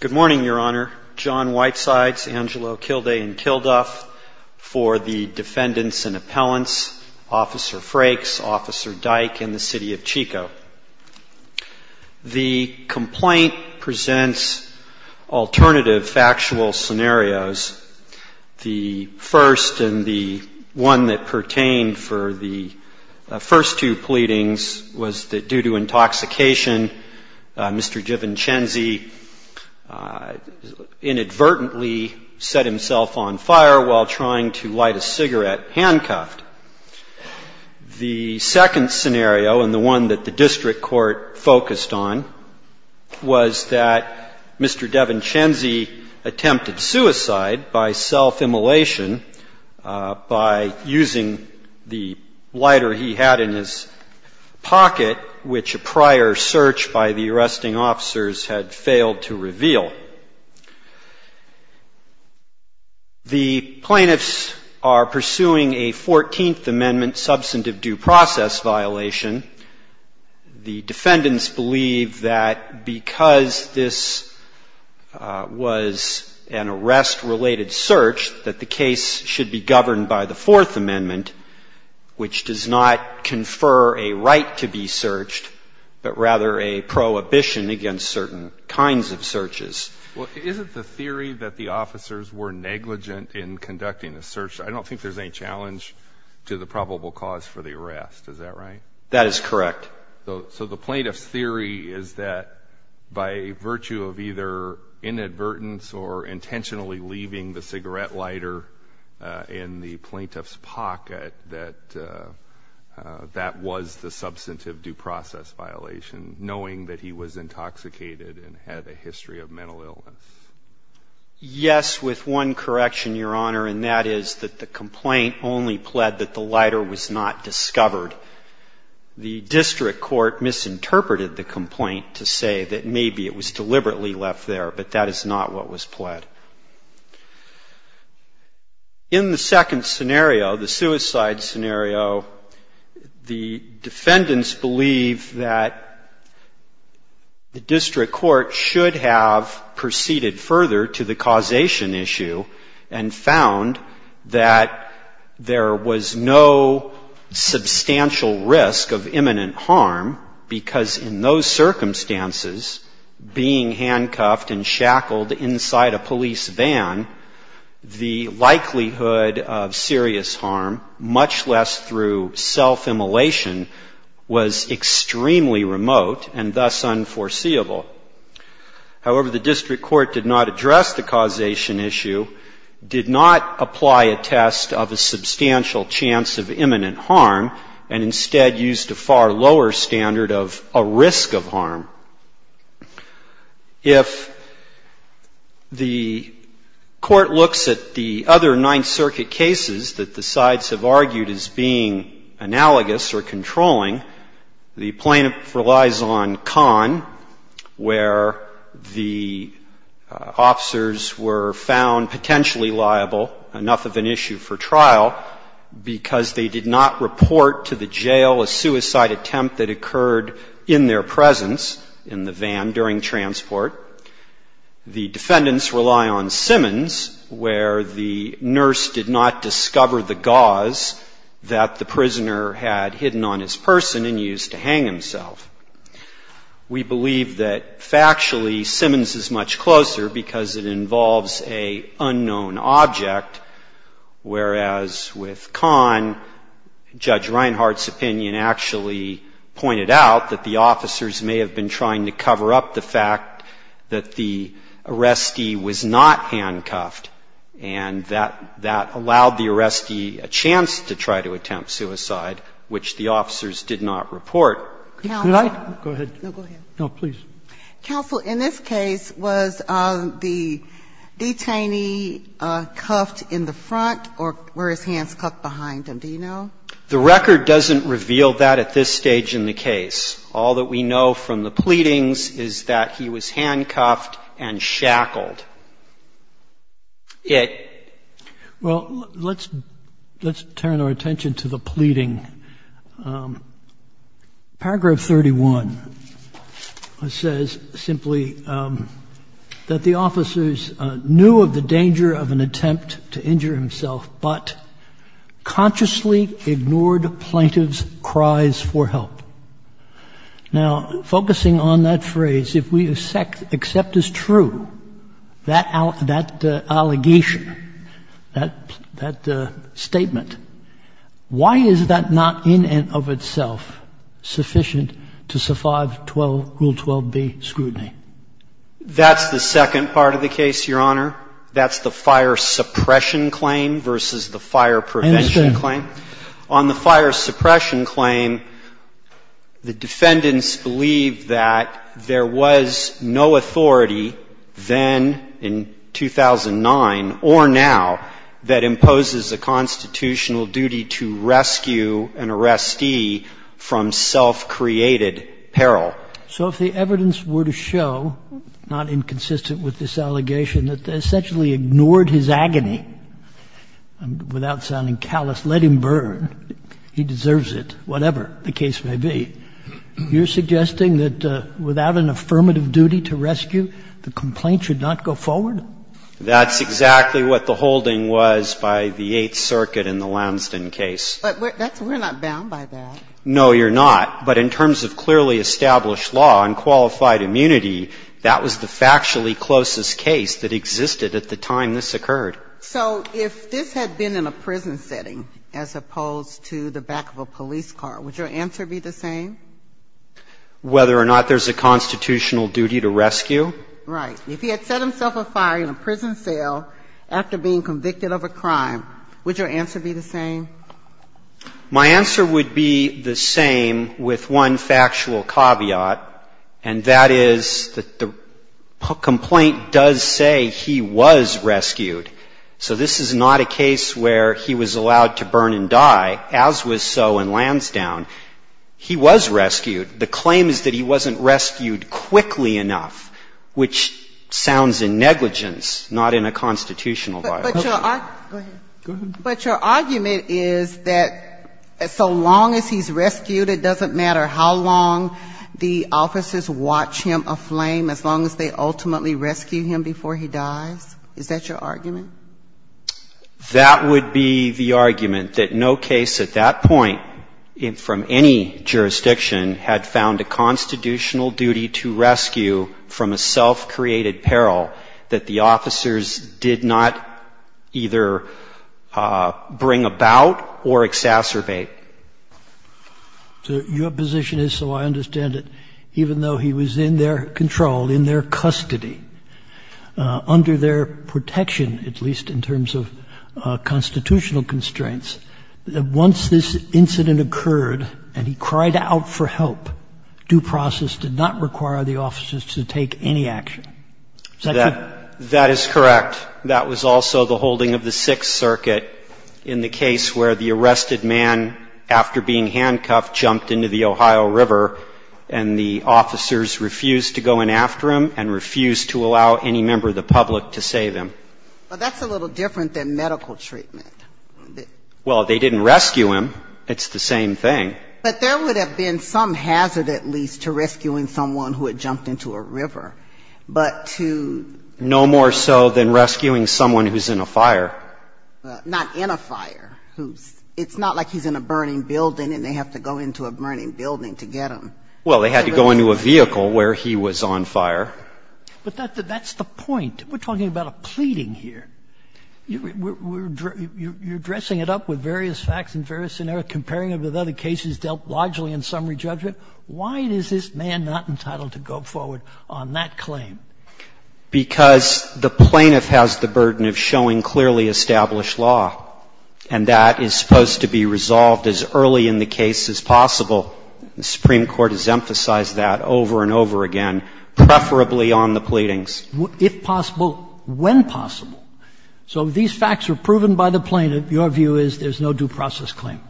Good morning, Your Honor. John Whitesides, Angelo Kilday, and Kilduff for the defendants and appellants, Officer Frakes, Officer Dyke, and the City of Chico. The complaint presents alternative factual scenarios. The first and the one that pertained for the first two pleadings was that due to Mr. De Vincenzi inadvertently set himself on fire while trying to light a cigarette handcuffed. The second scenario and the one that the district court focused on was that Mr. De Vincenzi attempted suicide by self-immolation by using the lighter he had in his pocket, which a prior search by the arresting officers had failed to reveal. The plaintiffs are pursuing a 14th Amendment substantive due process violation. The defendants believe that because this was an arrest-related search, that the case should be governed by the Fourth Amendment, which does not confer a right to be searched, but rather a prohibition against certain kinds of searches. Well, isn't the theory that the officers were negligent in conducting the search, I don't think there's any challenge to the probable cause for the arrest. Is that right? That is correct. So the plaintiff's theory is that by virtue of either inadvertence or intentionally leaving the cigarette lighter in the plaintiff's pocket, that that was the substantive due process violation, knowing that he was intoxicated and had a history of mental illness. Yes, with one correction, Your Honor, and that is that the complaint only pled that the lighter was not discovered. The district court misinterpreted the complaint to say that maybe it was deliberately left there, but that is not what was pled. In the second scenario, the suicide scenario, the defendants believe that the district court should have proceeded further to the causation issue and found that there was no substantial risk of imminent harm because in those circumstances, being handcuffed and shackled inside a police van, the likelihood of serious harm, much less through self-immolation, was extremely remote and thus unforeseeable. However, the district court did not address the causation issue, did not apply a test of a substantial chance of imminent harm, and instead used a far lower standard of a risk of harm. If the court looks at the other Ninth Circuit cases that the sides have argued as being analogous or controlling, the plaintiff relies on Kahn, where the officers were found potentially liable, enough of an issue for trial, because they did not report to the jail a suicide attempt that occurred in their presence in the van during transport. The defendants rely on Simmons, where the nurse did not discover the gauze that the prisoner had hidden on his person and used to hang himself. We believe that factually Simmons is much closer because it involves a unknown object, whereas with Kahn, Judge Reinhart's opinion actually pointed out that the officers may have been trying to cover up the fact that the arrestee was not handcuffed and that that allowed the arrestee a chance to try to attempt suicide, which the officers did not report. Did I? Go ahead. No, go ahead. No, please. Counsel, in this case, was the detainee cuffed in the front or were his hands cuffed behind him? Do you know? The record doesn't reveal that at this stage in the case. All that we know from the pleadings is that he was handcuffed and shackled. Yeah. Well, let's turn our attention to the pleading. Paragraph 31 says simply that the officers knew of the danger of an attempt to injure himself, but consciously ignored plaintiff's cries for help. Now, focusing on that phrase, if we accept as true that allegation, that statement, why is that not in and of itself sufficient to survive Rule 12b, scrutiny? That's the second part of the case, Your Honor. That's the fire suppression claim versus the fire prevention claim. I understand. On the fire suppression claim, the defendants believe that there was no authority then in 2009 or now that imposes a constitutional duty to rescue an arrestee from self-created peril. So if the evidence were to show, not inconsistent with this allegation, that they essentially ignored his agony, without sounding callous, let him burn, he deserves it, whatever the case may be, you're suggesting that without an affirmative duty to rescue, the complaint should not go forward? That's exactly what the holding was by the Eighth Circuit in the Lamson case. But we're not bound by that. No, you're not. But in terms of clearly established law and qualified immunity, that was the factually closest case that existed at the time this occurred. So if this had been in a prison setting as opposed to the back of a police car, would your answer be the same? Whether or not there's a constitutional duty to rescue? Right. If he had set himself afire in a prison cell after being convicted of a crime, would your answer be the same? My answer would be the same with one factual caveat, and that is that the complaint does say he was rescued. So this is not a case where he was allowed to burn and die, as was so in Lansdown. He was rescued. The claim is that he wasn't rescued quickly enough, which sounds in negligence, not in a constitutional violation. But your argument is that so long as he's rescued, it doesn't matter how long the officers watch him aflame, as long as they ultimately rescue him before he dies? Is that your argument? That would be the argument, that no case at that point from any jurisdiction had found a constitutional duty to rescue from a self-created peril that the officers did not either bring about or exacerbate. So your position is, so I understand it, even though he was in their control, in their custody, under their protection, at least in terms of constitutional constraints, that once this incident occurred and he cried out for help, due process did not require the officers to take any action? Is that correct? That is correct. But that was also the holding of the Sixth Circuit in the case where the arrested man, after being handcuffed, jumped into the Ohio River, and the officers refused to go in after him and refused to allow any member of the public to save him. But that's a little different than medical treatment. Well, they didn't rescue him. It's the same thing. But there would have been some hazard, at least, to rescuing someone who had jumped into a river. But to no more so than rescuing someone who's in a fire. Not in a fire. It's not like he's in a burning building and they have to go into a burning building to get him. Well, they had to go into a vehicle where he was on fire. But that's the point. We're talking about a pleading here. You're dressing it up with various facts and various scenarios, comparing it with other cases dealt largely in summary judgment. Why is this man not entitled to go forward on that claim? Because the plaintiff has the burden of showing clearly established law, and that is supposed to be resolved as early in the case as possible. The Supreme Court has emphasized that over and over again, preferably on the pleadings. If possible, when possible. So these facts are proven by the plaintiff. Your view is there's no due process claim.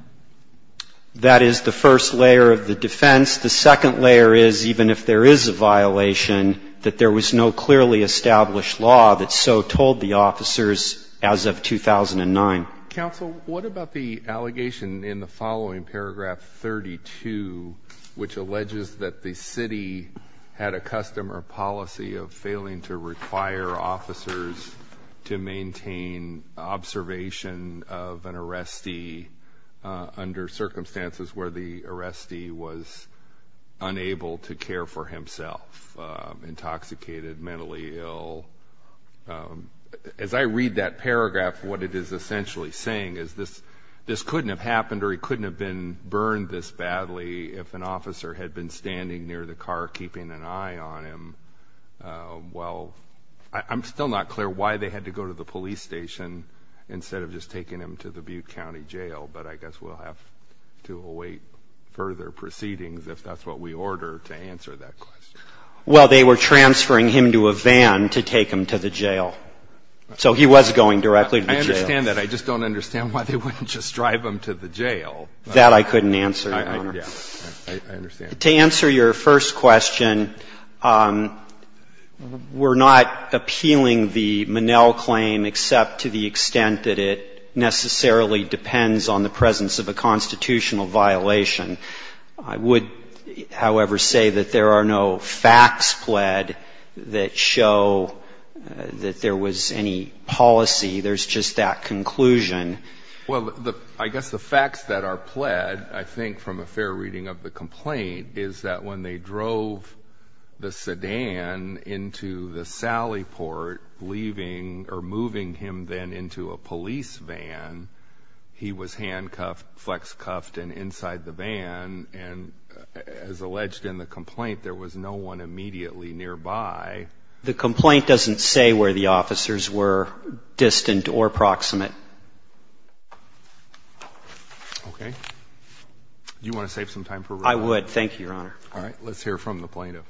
That is the first layer of the defense. The second layer is, even if there is a violation, that there was no clearly established law that so told the officers as of 2009. Counsel, what about the allegation in the following paragraph 32, which alleges that the city had a custom or policy of failing to require officers to maintain observation of an arrestee under circumstances where the arrestee was unable to care for himself, intoxicated, mentally ill? As I read that paragraph, what it is essentially saying is this couldn't have happened or he couldn't have been burned this badly if an officer had been standing near the car keeping an eye on him. Well, I'm still not clear why they had to go to the police station instead of just taking him to the Butte County Jail, but I guess we'll have to await further proceedings if that's what we order to answer that question. Well, they were transferring him to a van to take him to the jail. So he was going directly to the jail. I understand that. I just don't understand why they wouldn't just drive him to the jail. That I couldn't answer, Your Honor. I understand. To answer your first question, we're not appealing the Monell claim except to the extent that it necessarily depends on the presence of a constitutional violation. I would, however, say that there are no facts pled that show that there was any policy. There's just that conclusion. Well, I guess the facts that are pled, I think from a fair reading of the complaint, is that when they drove the sedan into the sally port, leaving or moving him then into a police van, he was handcuffed, flex cuffed, and inside the van. And as alleged in the complaint, there was no one immediately nearby. The complaint doesn't say where the officers were distant or proximate. Okay. Do you want to save some time for review? I would. Thank you, Your Honor. All right. Let's hear from the plaintiff. Okay.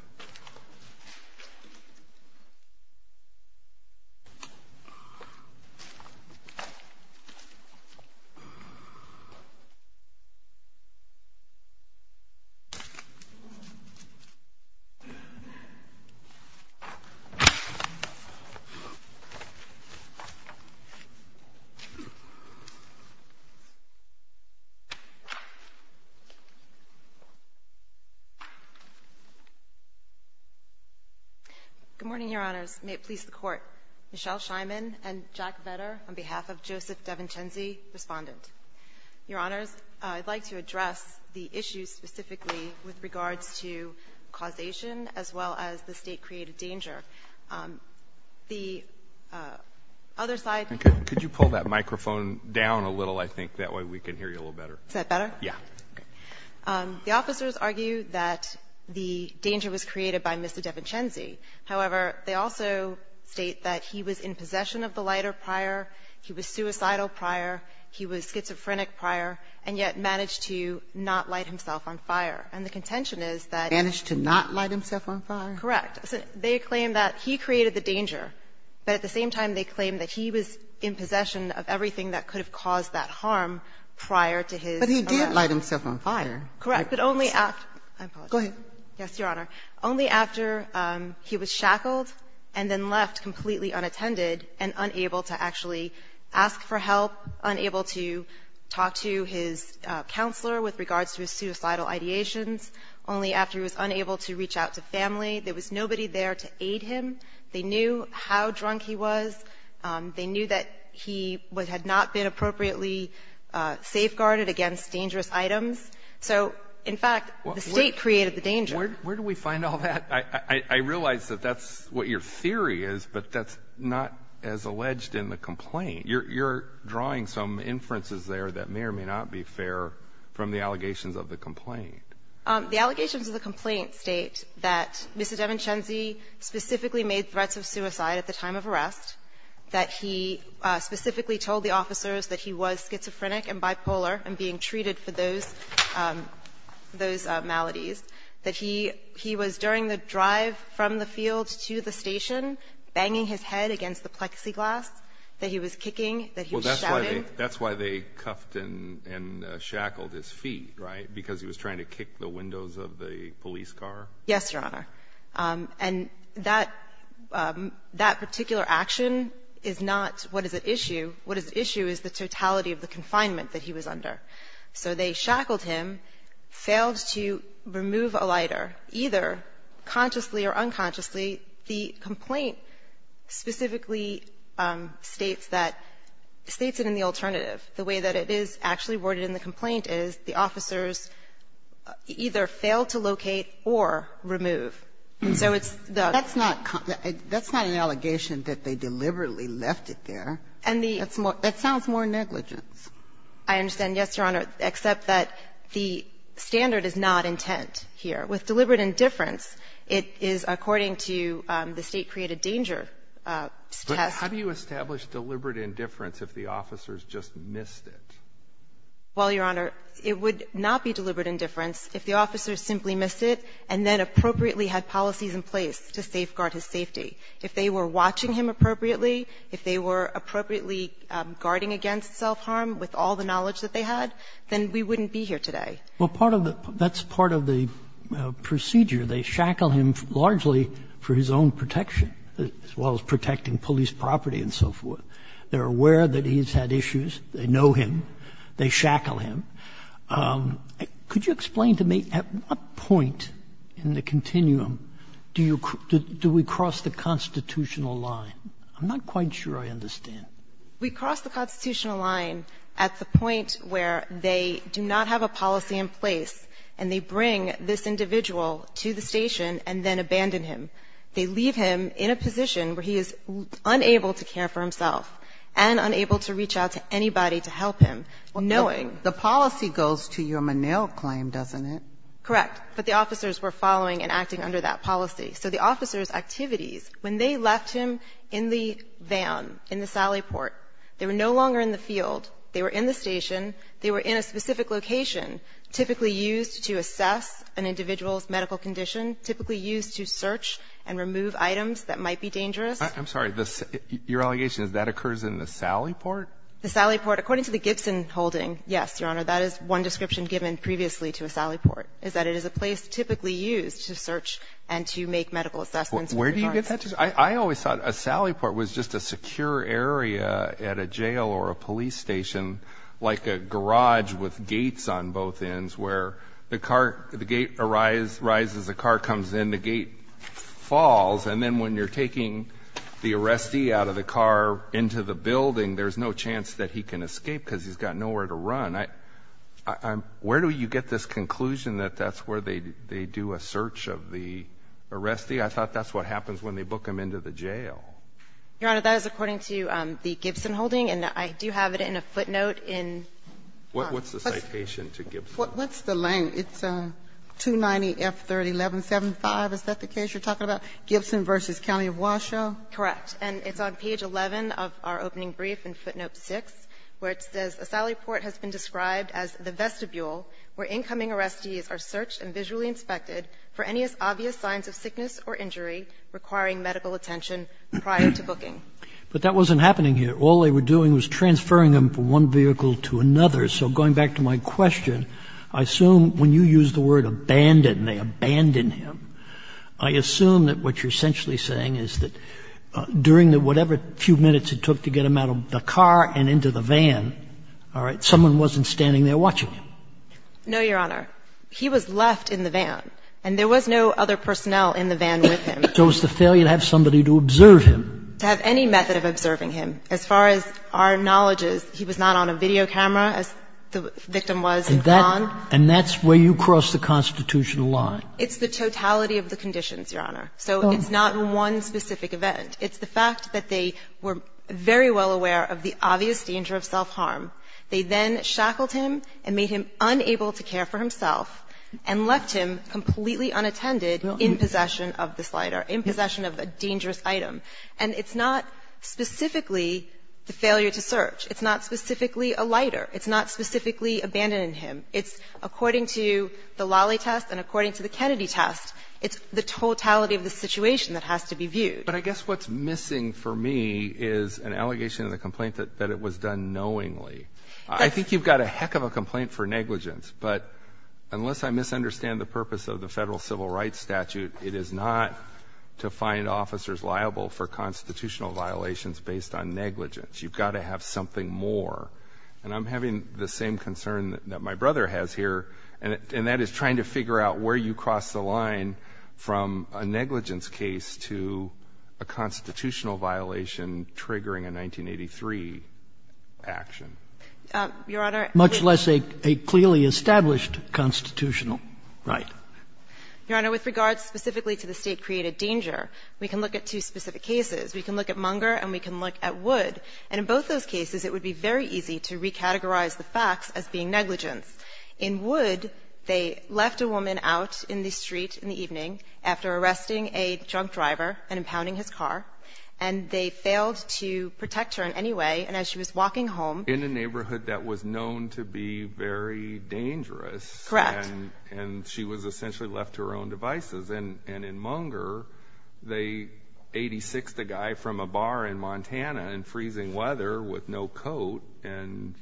Good morning, Your Honors. May it please the Court. Michelle Scheinman and Jack Vedder on behalf of Joseph DeVincenzi, Respondent. Your Honors, I'd like to address the issue specifically with regards to causation as well as the State-created danger. The other side of the court ---- Could you pull that microphone down a little, I think? That way we can hear you a little better. Is that better? Yeah. Okay. The officers argue that the danger was created by Mr. DeVincenzi. However, they also state that he was in possession of the lighter prior, he was suicidal prior, he was schizophrenic prior, and yet managed to not light himself on fire. And the contention is that ---- Managed to not light himself on fire? Correct. They claim that he created the danger, but at the same time they claim that he was in possession of everything that could have caused that harm prior to his ---- But he did light himself on fire. Correct. But only after ---- Go ahead. Yes, Your Honor. Only after he was shackled and then left completely unattended and unable to actually ask for help, unable to talk to his counselor with regards to his suicidal ideations, only after he was unable to reach out to family. There was nobody there to aid him. They knew how drunk he was. They knew that he had not been appropriately safeguarded against dangerous items. So, in fact, the State created the danger. Where do we find all that? I realize that that's what your theory is, but that's not as alleged in the complaint. You're drawing some inferences there that may or may not be fair from the allegations of the complaint. The allegations of the complaint state that Mr. DeVincenzi specifically made threats of suicide at the time of arrest, that he specifically told the officers that he was schizophrenic and bipolar and being treated for those maladies, that he was, during the drive from the field to the station, banging his head against the plexiglass, that he was kicking, that he was shouting. Well, that's why they cuffed and shackled his feet, right, because he was trying to kick the windows of the police car? Yes, Your Honor. And that particular action is not what is at issue. What is at issue is the totality of the confinement that he was under. So they shackled him, failed to remove a lighter, either consciously or unconsciously. The complaint specifically states that, states it in the alternative. The way that it is actually worded in the complaint is the officers either failed to locate or remove. And so it's the ---- That's not an allegation that they deliberately left it there. And the ---- That sounds more negligence. I understand, yes, Your Honor, except that the standard is not intent here. With deliberate indifference, it is according to the State Created Danger test. But how do you establish deliberate indifference if the officers just missed it? Well, Your Honor, it would not be deliberate indifference if the officers simply missed it and then appropriately had policies in place to safeguard his safety. If they were watching him appropriately, if they were appropriately guarding against self-harm with all the knowledge that they had, then we wouldn't be here today. Well, part of the ---- that's part of the procedure. They shackle him largely for his own protection, as well as protecting police property and so forth. They're aware that he's had issues. They know him. They shackle him. Could you explain to me at what point in the continuum do you ---- do we cross the constitutional line? I'm not quite sure I understand. We cross the constitutional line at the point where they do not have a policy in place, and they bring this individual to the station and then abandon him. They leave him in a position where he is unable to care for himself and unable to reach out to anybody to help him. Knowing. The policy goes to your Menil claim, doesn't it? Correct. But the officers were following and acting under that policy. So the officers' activities, when they left him in the van, in the Sally Port, they were no longer in the field. They were in the station. They were in a specific location, typically used to assess an individual's medical condition, typically used to search and remove items that might be dangerous. I'm sorry. Your allegation is that occurs in the Sally Port? The Sally Port, according to the Gibson holding, yes, Your Honor, that is one description given previously to a Sally Port, is that it is a place typically used to search and to make medical assessments. Where do you get that? I always thought a Sally Port was just a secure area at a jail or a police station, like a garage with gates on both ends where the car ---- the gate arises, the car comes in, the gate falls, and then when you're taking the arrestee out of the car into the building, there's no chance that he can escape because he's got nowhere to run. I'm ---- where do you get this conclusion that that's where they do a search of the arrestee? I thought that's what happens when they book him into the jail. Your Honor, that is according to the Gibson holding, and I do have it in a footnote in ---- What's the citation to Gibson? What's the ---- it's 290F31175. Is that the case you're talking about, Gibson v. County of Washoe? Correct. And it's on page 11 of our opening brief in footnote 6, where it says, A Sally Port has been described as the vestibule where incoming arrestees are searched and visually inspected for any obvious signs of sickness or injury requiring medical attention prior to booking. But that wasn't happening here. All they were doing was transferring him from one vehicle to another. So going back to my question, I assume when you use the word abandoned, they abandoned him. I assume that what you're essentially saying is that during the whatever few minutes it took to get him out of the car and into the van, all right, someone wasn't standing there watching him. No, Your Honor. He was left in the van, and there was no other personnel in the van with him. So it was the failure to have somebody to observe him. To have any method of observing him. As far as our knowledge is, he was not on a video camera, as the victim was at Vaughan. And that's where you cross the constitutional line. It's the totality of the conditions, Your Honor. So it's not one specific event. It's the fact that they were very well aware of the obvious danger of self-harm. They then shackled him and made him unable to care for himself and left him completely unattended in possession of this lighter, in possession of a dangerous item. And it's not specifically the failure to search. It's not specifically a lighter. It's not specifically abandoning him. It's according to the Lally test and according to the Kennedy test. It's the totality of the situation that has to be viewed. But I guess what's missing for me is an allegation of the complaint that it was done knowingly. I think you've got a heck of a complaint for negligence. But unless I misunderstand the purpose of the federal civil rights statute, it is not to find officers liable for constitutional violations based on negligence. You've got to have something more. And I'm having the same concern that my brother has here, and that is trying to figure out where you cross the line from a negligence case to a constitutional violation triggering a 1983 action. Your Honor, we can look at Munger and we can look at Wood, and in both those cases the facts as being negligence. In Wood, they left a woman out in the street in the evening after arresting a drunk driver and impounding his car, and they failed to protect her in any way. And as she was walking home In a neighborhood that was known to be very dangerous Correct And she was essentially left to her own devices. And in Munger, they 86'd a guy from a bar in Montana in freezing weather with no coat and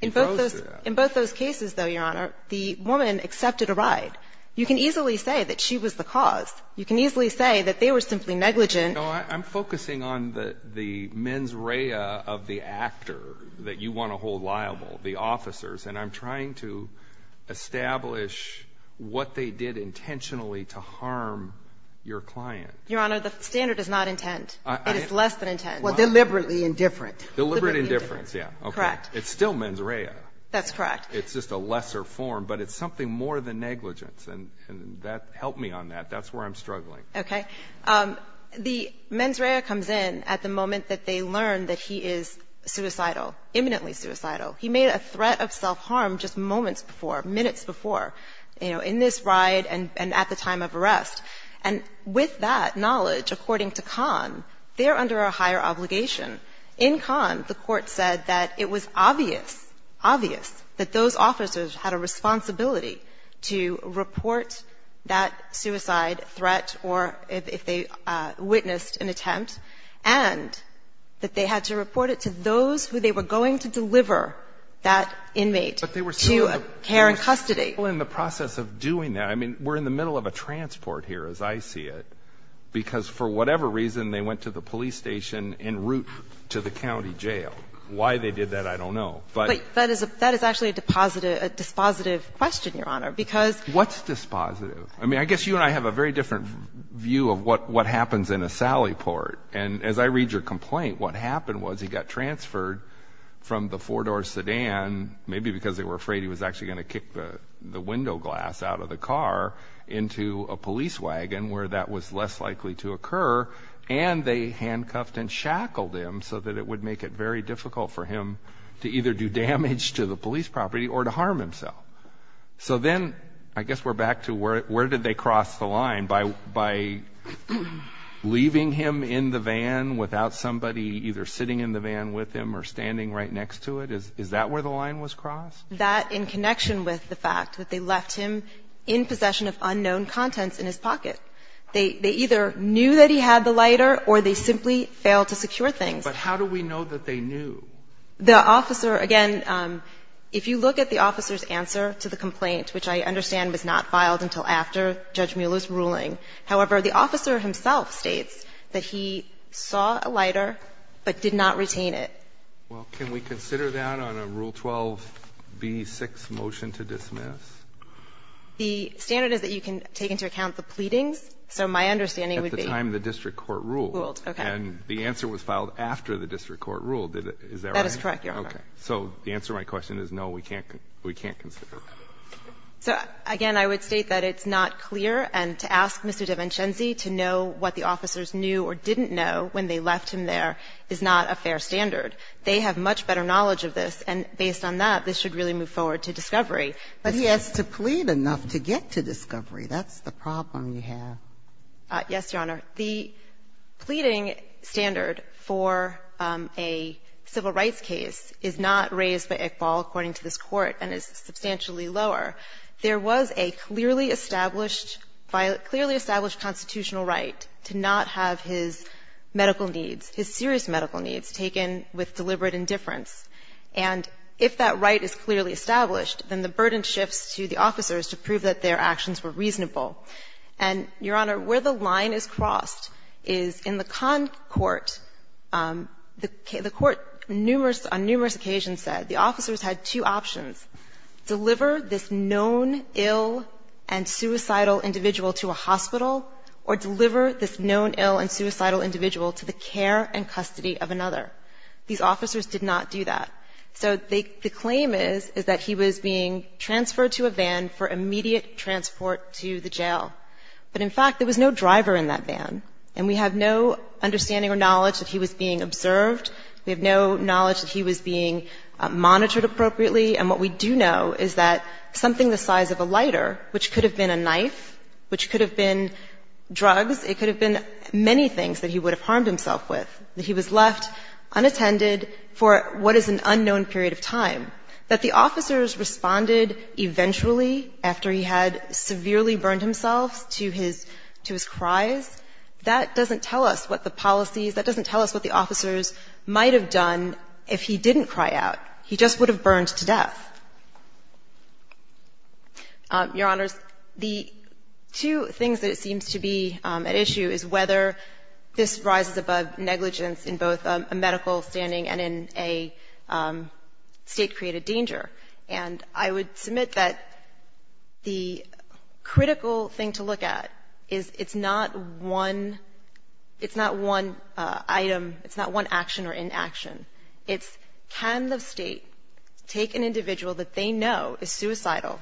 he froze to death. In both those cases, though, Your Honor, the woman accepted a ride. You can easily say that she was the cause. You can easily say that they were simply negligent. No, I'm focusing on the mens rea of the actor that you want to hold liable, the officers. And I'm trying to establish what they did intentionally to harm your client. Your Honor, the standard is not intent. It is less than intent. Well, deliberately indifferent. Deliberate indifference, yeah. Correct. It's still mens rea. That's correct. It's just a lesser form, but it's something more than negligence. And that helped me on that. That's where I'm struggling. Okay. The mens rea comes in at the moment that they learn that he is suicidal, imminently suicidal. He made a threat of self-harm just moments before, minutes before, you know, in this ride and at the time of arrest. And with that knowledge, according to Kahn, they're under a higher obligation. In Kahn, the Court said that it was obvious, obvious, that those officers had a responsibility to report that suicide threat or if they witnessed an attempt, and that they had to report it to those who they were going to deliver that inmate to care and custody. But they were still in the process of doing that. I mean, we're in the middle of a transport here, as I see it, because for whatever reason, they went to the police station en route to the county jail. Why they did that, I don't know. But that is actually a dispositive question, Your Honor, because What's dispositive? I mean, I guess you and I have a very different view of what happens in a Sally report. And as I read your complaint, what happened was he got transferred from the four-door sedan, maybe because they were afraid he was actually going to kick the window glass out of the car, into a police wagon where that was less likely to occur, and they handcuffed and shackled him so that it would make it very difficult for him to either do damage to the police property or to harm himself. So then, I guess we're back to where did they cross the line? By leaving him in the van without somebody either sitting in the van with him or standing right next to it? Is that where the line was crossed? That in connection with the fact that they left him in possession of unknown contents in his pocket. They either knew that he had the lighter or they simply failed to secure things. But how do we know that they knew? The officer, again, if you look at the officer's answer to the complaint, which I understand was not filed until after Judge Mueller's ruling, however, the officer himself states that he saw a lighter but did not retain it. Well, can we consider that on a Rule 12b6 motion to dismiss? The standard is that you can take into account the pleadings. So my understanding would be... At the time the district court ruled. Okay. And the answer was filed after the district court ruled. Is that right? That is correct, Your Honor. Okay. So the answer to my question is, no, we can't consider. So, again, I would state that it's not clear and to ask Mr. DiVincenzi to know what the officers knew or didn't know when they left him there is not a fair standard. They have much better knowledge of this, and based on that, this should really move forward to discovery. But he has to plead enough to get to discovery. That's the problem you have. Yes, Your Honor. The pleading standard for a civil rights case is not raised by Iqbal, according to this Court, and is substantially lower. There was a clearly established constitutional right to not have his medical needs, his serious medical needs, taken with deliberate indifference. And if that right is clearly established, then the burden shifts to the officers to prove that their actions were reasonable. And, Your Honor, where the line is crossed is in the Conn court, the court on numerous occasions said the officers had two options, deliver this known ill and suicidal individual to a hospital or deliver this known ill and suicidal individual to the care and custody of another. These officers did not do that. So the claim is, is that he was being transferred to a van for immediate transport to the jail. But, in fact, there was no driver in that van. And we have no understanding or knowledge that he was being observed. We have no knowledge that he was being monitored appropriately. And what we do know is that something the size of a lighter, which could have been a knife, which could have been drugs, it could have been many things that he would have harmed himself with, that he was left unattended for what is an unknown period of time, that the officers responded eventually, after he had severely burned himself, to his cries. That doesn't tell us what the policies, that doesn't tell us what the officers might have done if he didn't cry out. He just would have burned to death. Your Honors, the two things that it seems to be at issue is whether this rises above negligence in both a medical standing and in a State-created danger. And I would submit that the critical thing to look at is it's not one, it's not one item, it's not one action or inaction. It's, can the State take an individual that they know is suicidal,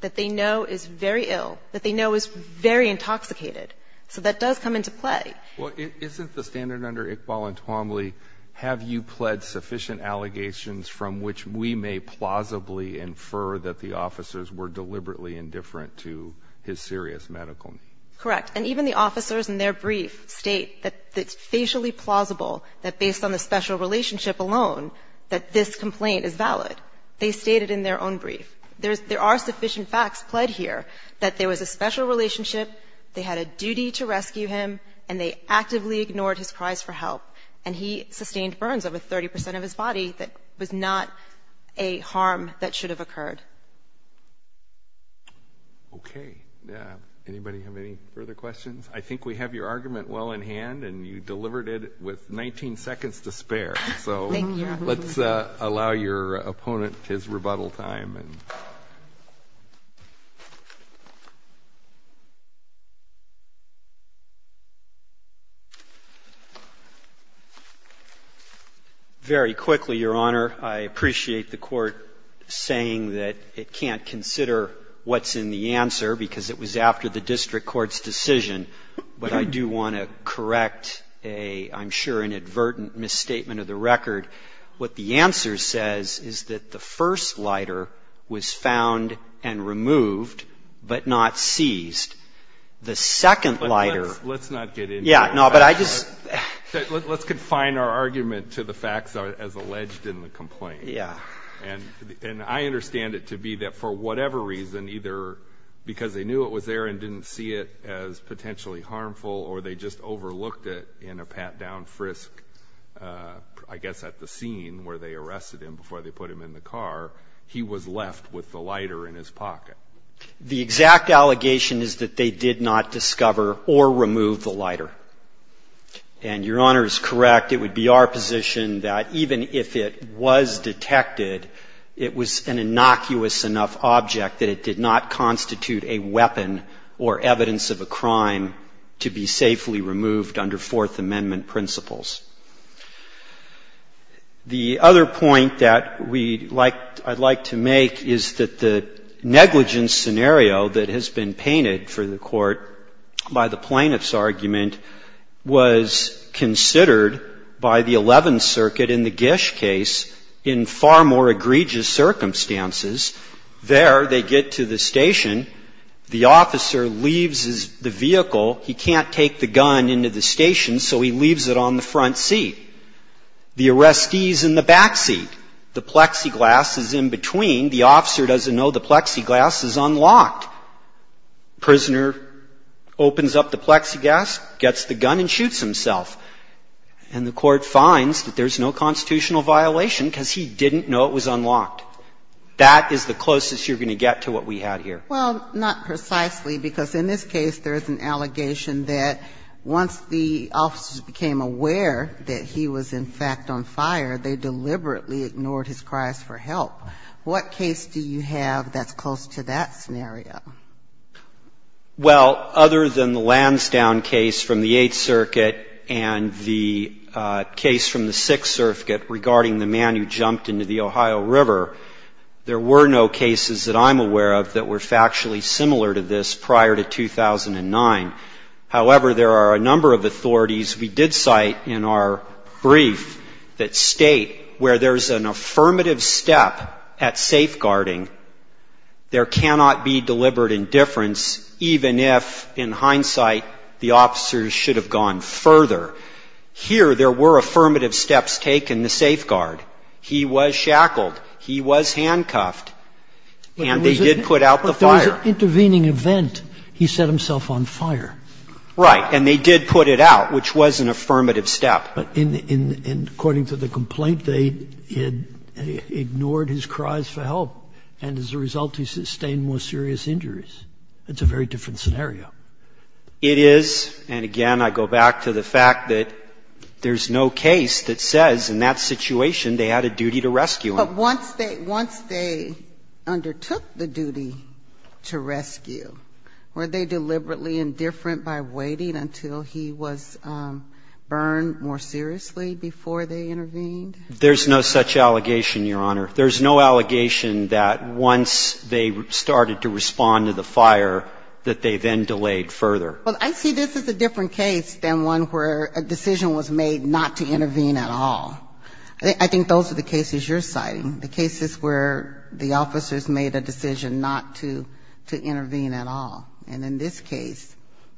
that they know is very ill, that they know is very intoxicated? So that does come into play. Well, isn't the standard under Iqbal and Twombly, have you pled sufficient allegations from which we may plausibly infer that the officers were deliberately indifferent to his serious medical need? Correct. And even the officers in their brief state that it's facially plausible that based on the special relationship alone, that this complaint is valid. They stated in their own brief. There are sufficient facts pled here that there was a special relationship, they had a duty to rescue him, and they actively ignored his cries for help. And he sustained burns over 30% of his body that was not a harm that should have occurred. Okay, anybody have any further questions? I think we have your argument well in hand and you delivered it with 19 seconds to spare. So let's allow your opponent his rebuttal time. Very quickly, Your Honor, I appreciate the court saying that it can't consider what's in the answer, because it was after the district court's decision. But I do want to correct a, I'm sure, an advertent misstatement of the record. What the answer says is that the first lighter was found and removed, but not seized. The second lighter- Let's not get into it. Yeah, no, but I just- Let's confine our argument to the facts as alleged in the complaint. Yeah. And I understand it to be that for whatever reason, either because they knew it was there and didn't see it as potentially harmful, or they just overlooked it in a pat down frisk, I guess at the scene where they arrested him before they put him in the car. He was left with the lighter in his pocket. The exact allegation is that they did not discover or remove the lighter. And Your Honor is correct, it would be our position that even if it was detected, it was an innocuous enough object that it did not constitute a weapon or evidence of a crime to be safely removed under Fourth Amendment principles. The other point that we'd like, I'd like to make is that the negligence scenario that has been painted for the court by the plaintiff's argument was considered by the 11th Circuit in the Gish case in far more egregious circumstances. There, they get to the station, the officer leaves the vehicle, he can't take the gun into the station, so he leaves it on the front door. He can't take the gun into the back seat, so he leaves it on the front seat. The arrestee's in the back seat, the plexiglass is in between, the officer doesn't know the plexiglass is unlocked. Prisoner opens up the plexiglass, gets the gun and shoots himself. And the court finds that there's no constitutional violation because he didn't know it was unlocked. That is the closest you're going to get to what we had here. Well, not precisely, because in this case, there is an allegation that once the officers became aware that he was, in fact, on fire, they deliberately ignored his cries for help. What case do you have that's close to that scenario? Well, other than the Lansdowne case from the Eighth Circuit and the case from the Sixth Circuit regarding the man who jumped into the Ohio River, there were no cases that I'm aware of that were factually similar to this prior to 2009. However, there are a number of authorities we did cite in our brief that state where there's an affirmative step at safeguarding, there cannot be deliberate indifference even if, in hindsight, the officers should have gone further. Here, there were affirmative steps taken to safeguard. He was shackled, he was handcuffed, and they did put out the fire. But there was an intervening event. He set himself on fire. Right, and they did put it out, which was an affirmative step. But according to the complaint, they had ignored his cries for help. And as a result, he sustained more serious injuries. It's a very different scenario. It is, and again, I go back to the fact that there's no case that says, in that situation, they had a duty to rescue him. But once they undertook the duty to rescue, were they deliberately indifferent by waiting until he was burned more seriously before they intervened? There's no such allegation, Your Honor. There's no allegation that once they started to respond to the fire that they then delayed further. Well, I see this as a different case than one where a decision was made not to intervene at all. I think those are the cases you're citing, the cases where the officers made a decision not to intervene at all. And in this case,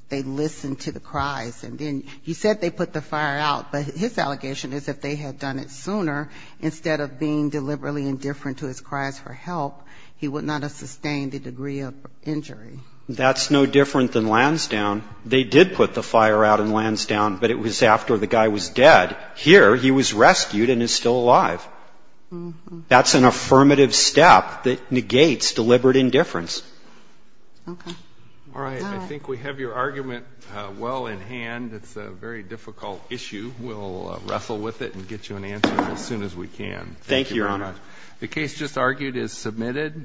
they listened to the cries. And then he said they put the fire out, but his allegation is that if they had done it sooner, instead of being deliberately indifferent to his cries for help, he would not have sustained the degree of injury. That's no different than Lansdowne. They did put the fire out in Lansdowne, but it was after the guy was dead. Here, he was rescued and is still alive. That's an affirmative step that negates deliberate indifference. All right, I think we have your argument well in hand. It's a very difficult issue. We'll wrestle with it and get you an answer as soon as we can. Thank you, Your Honor. The case just argued is submitted.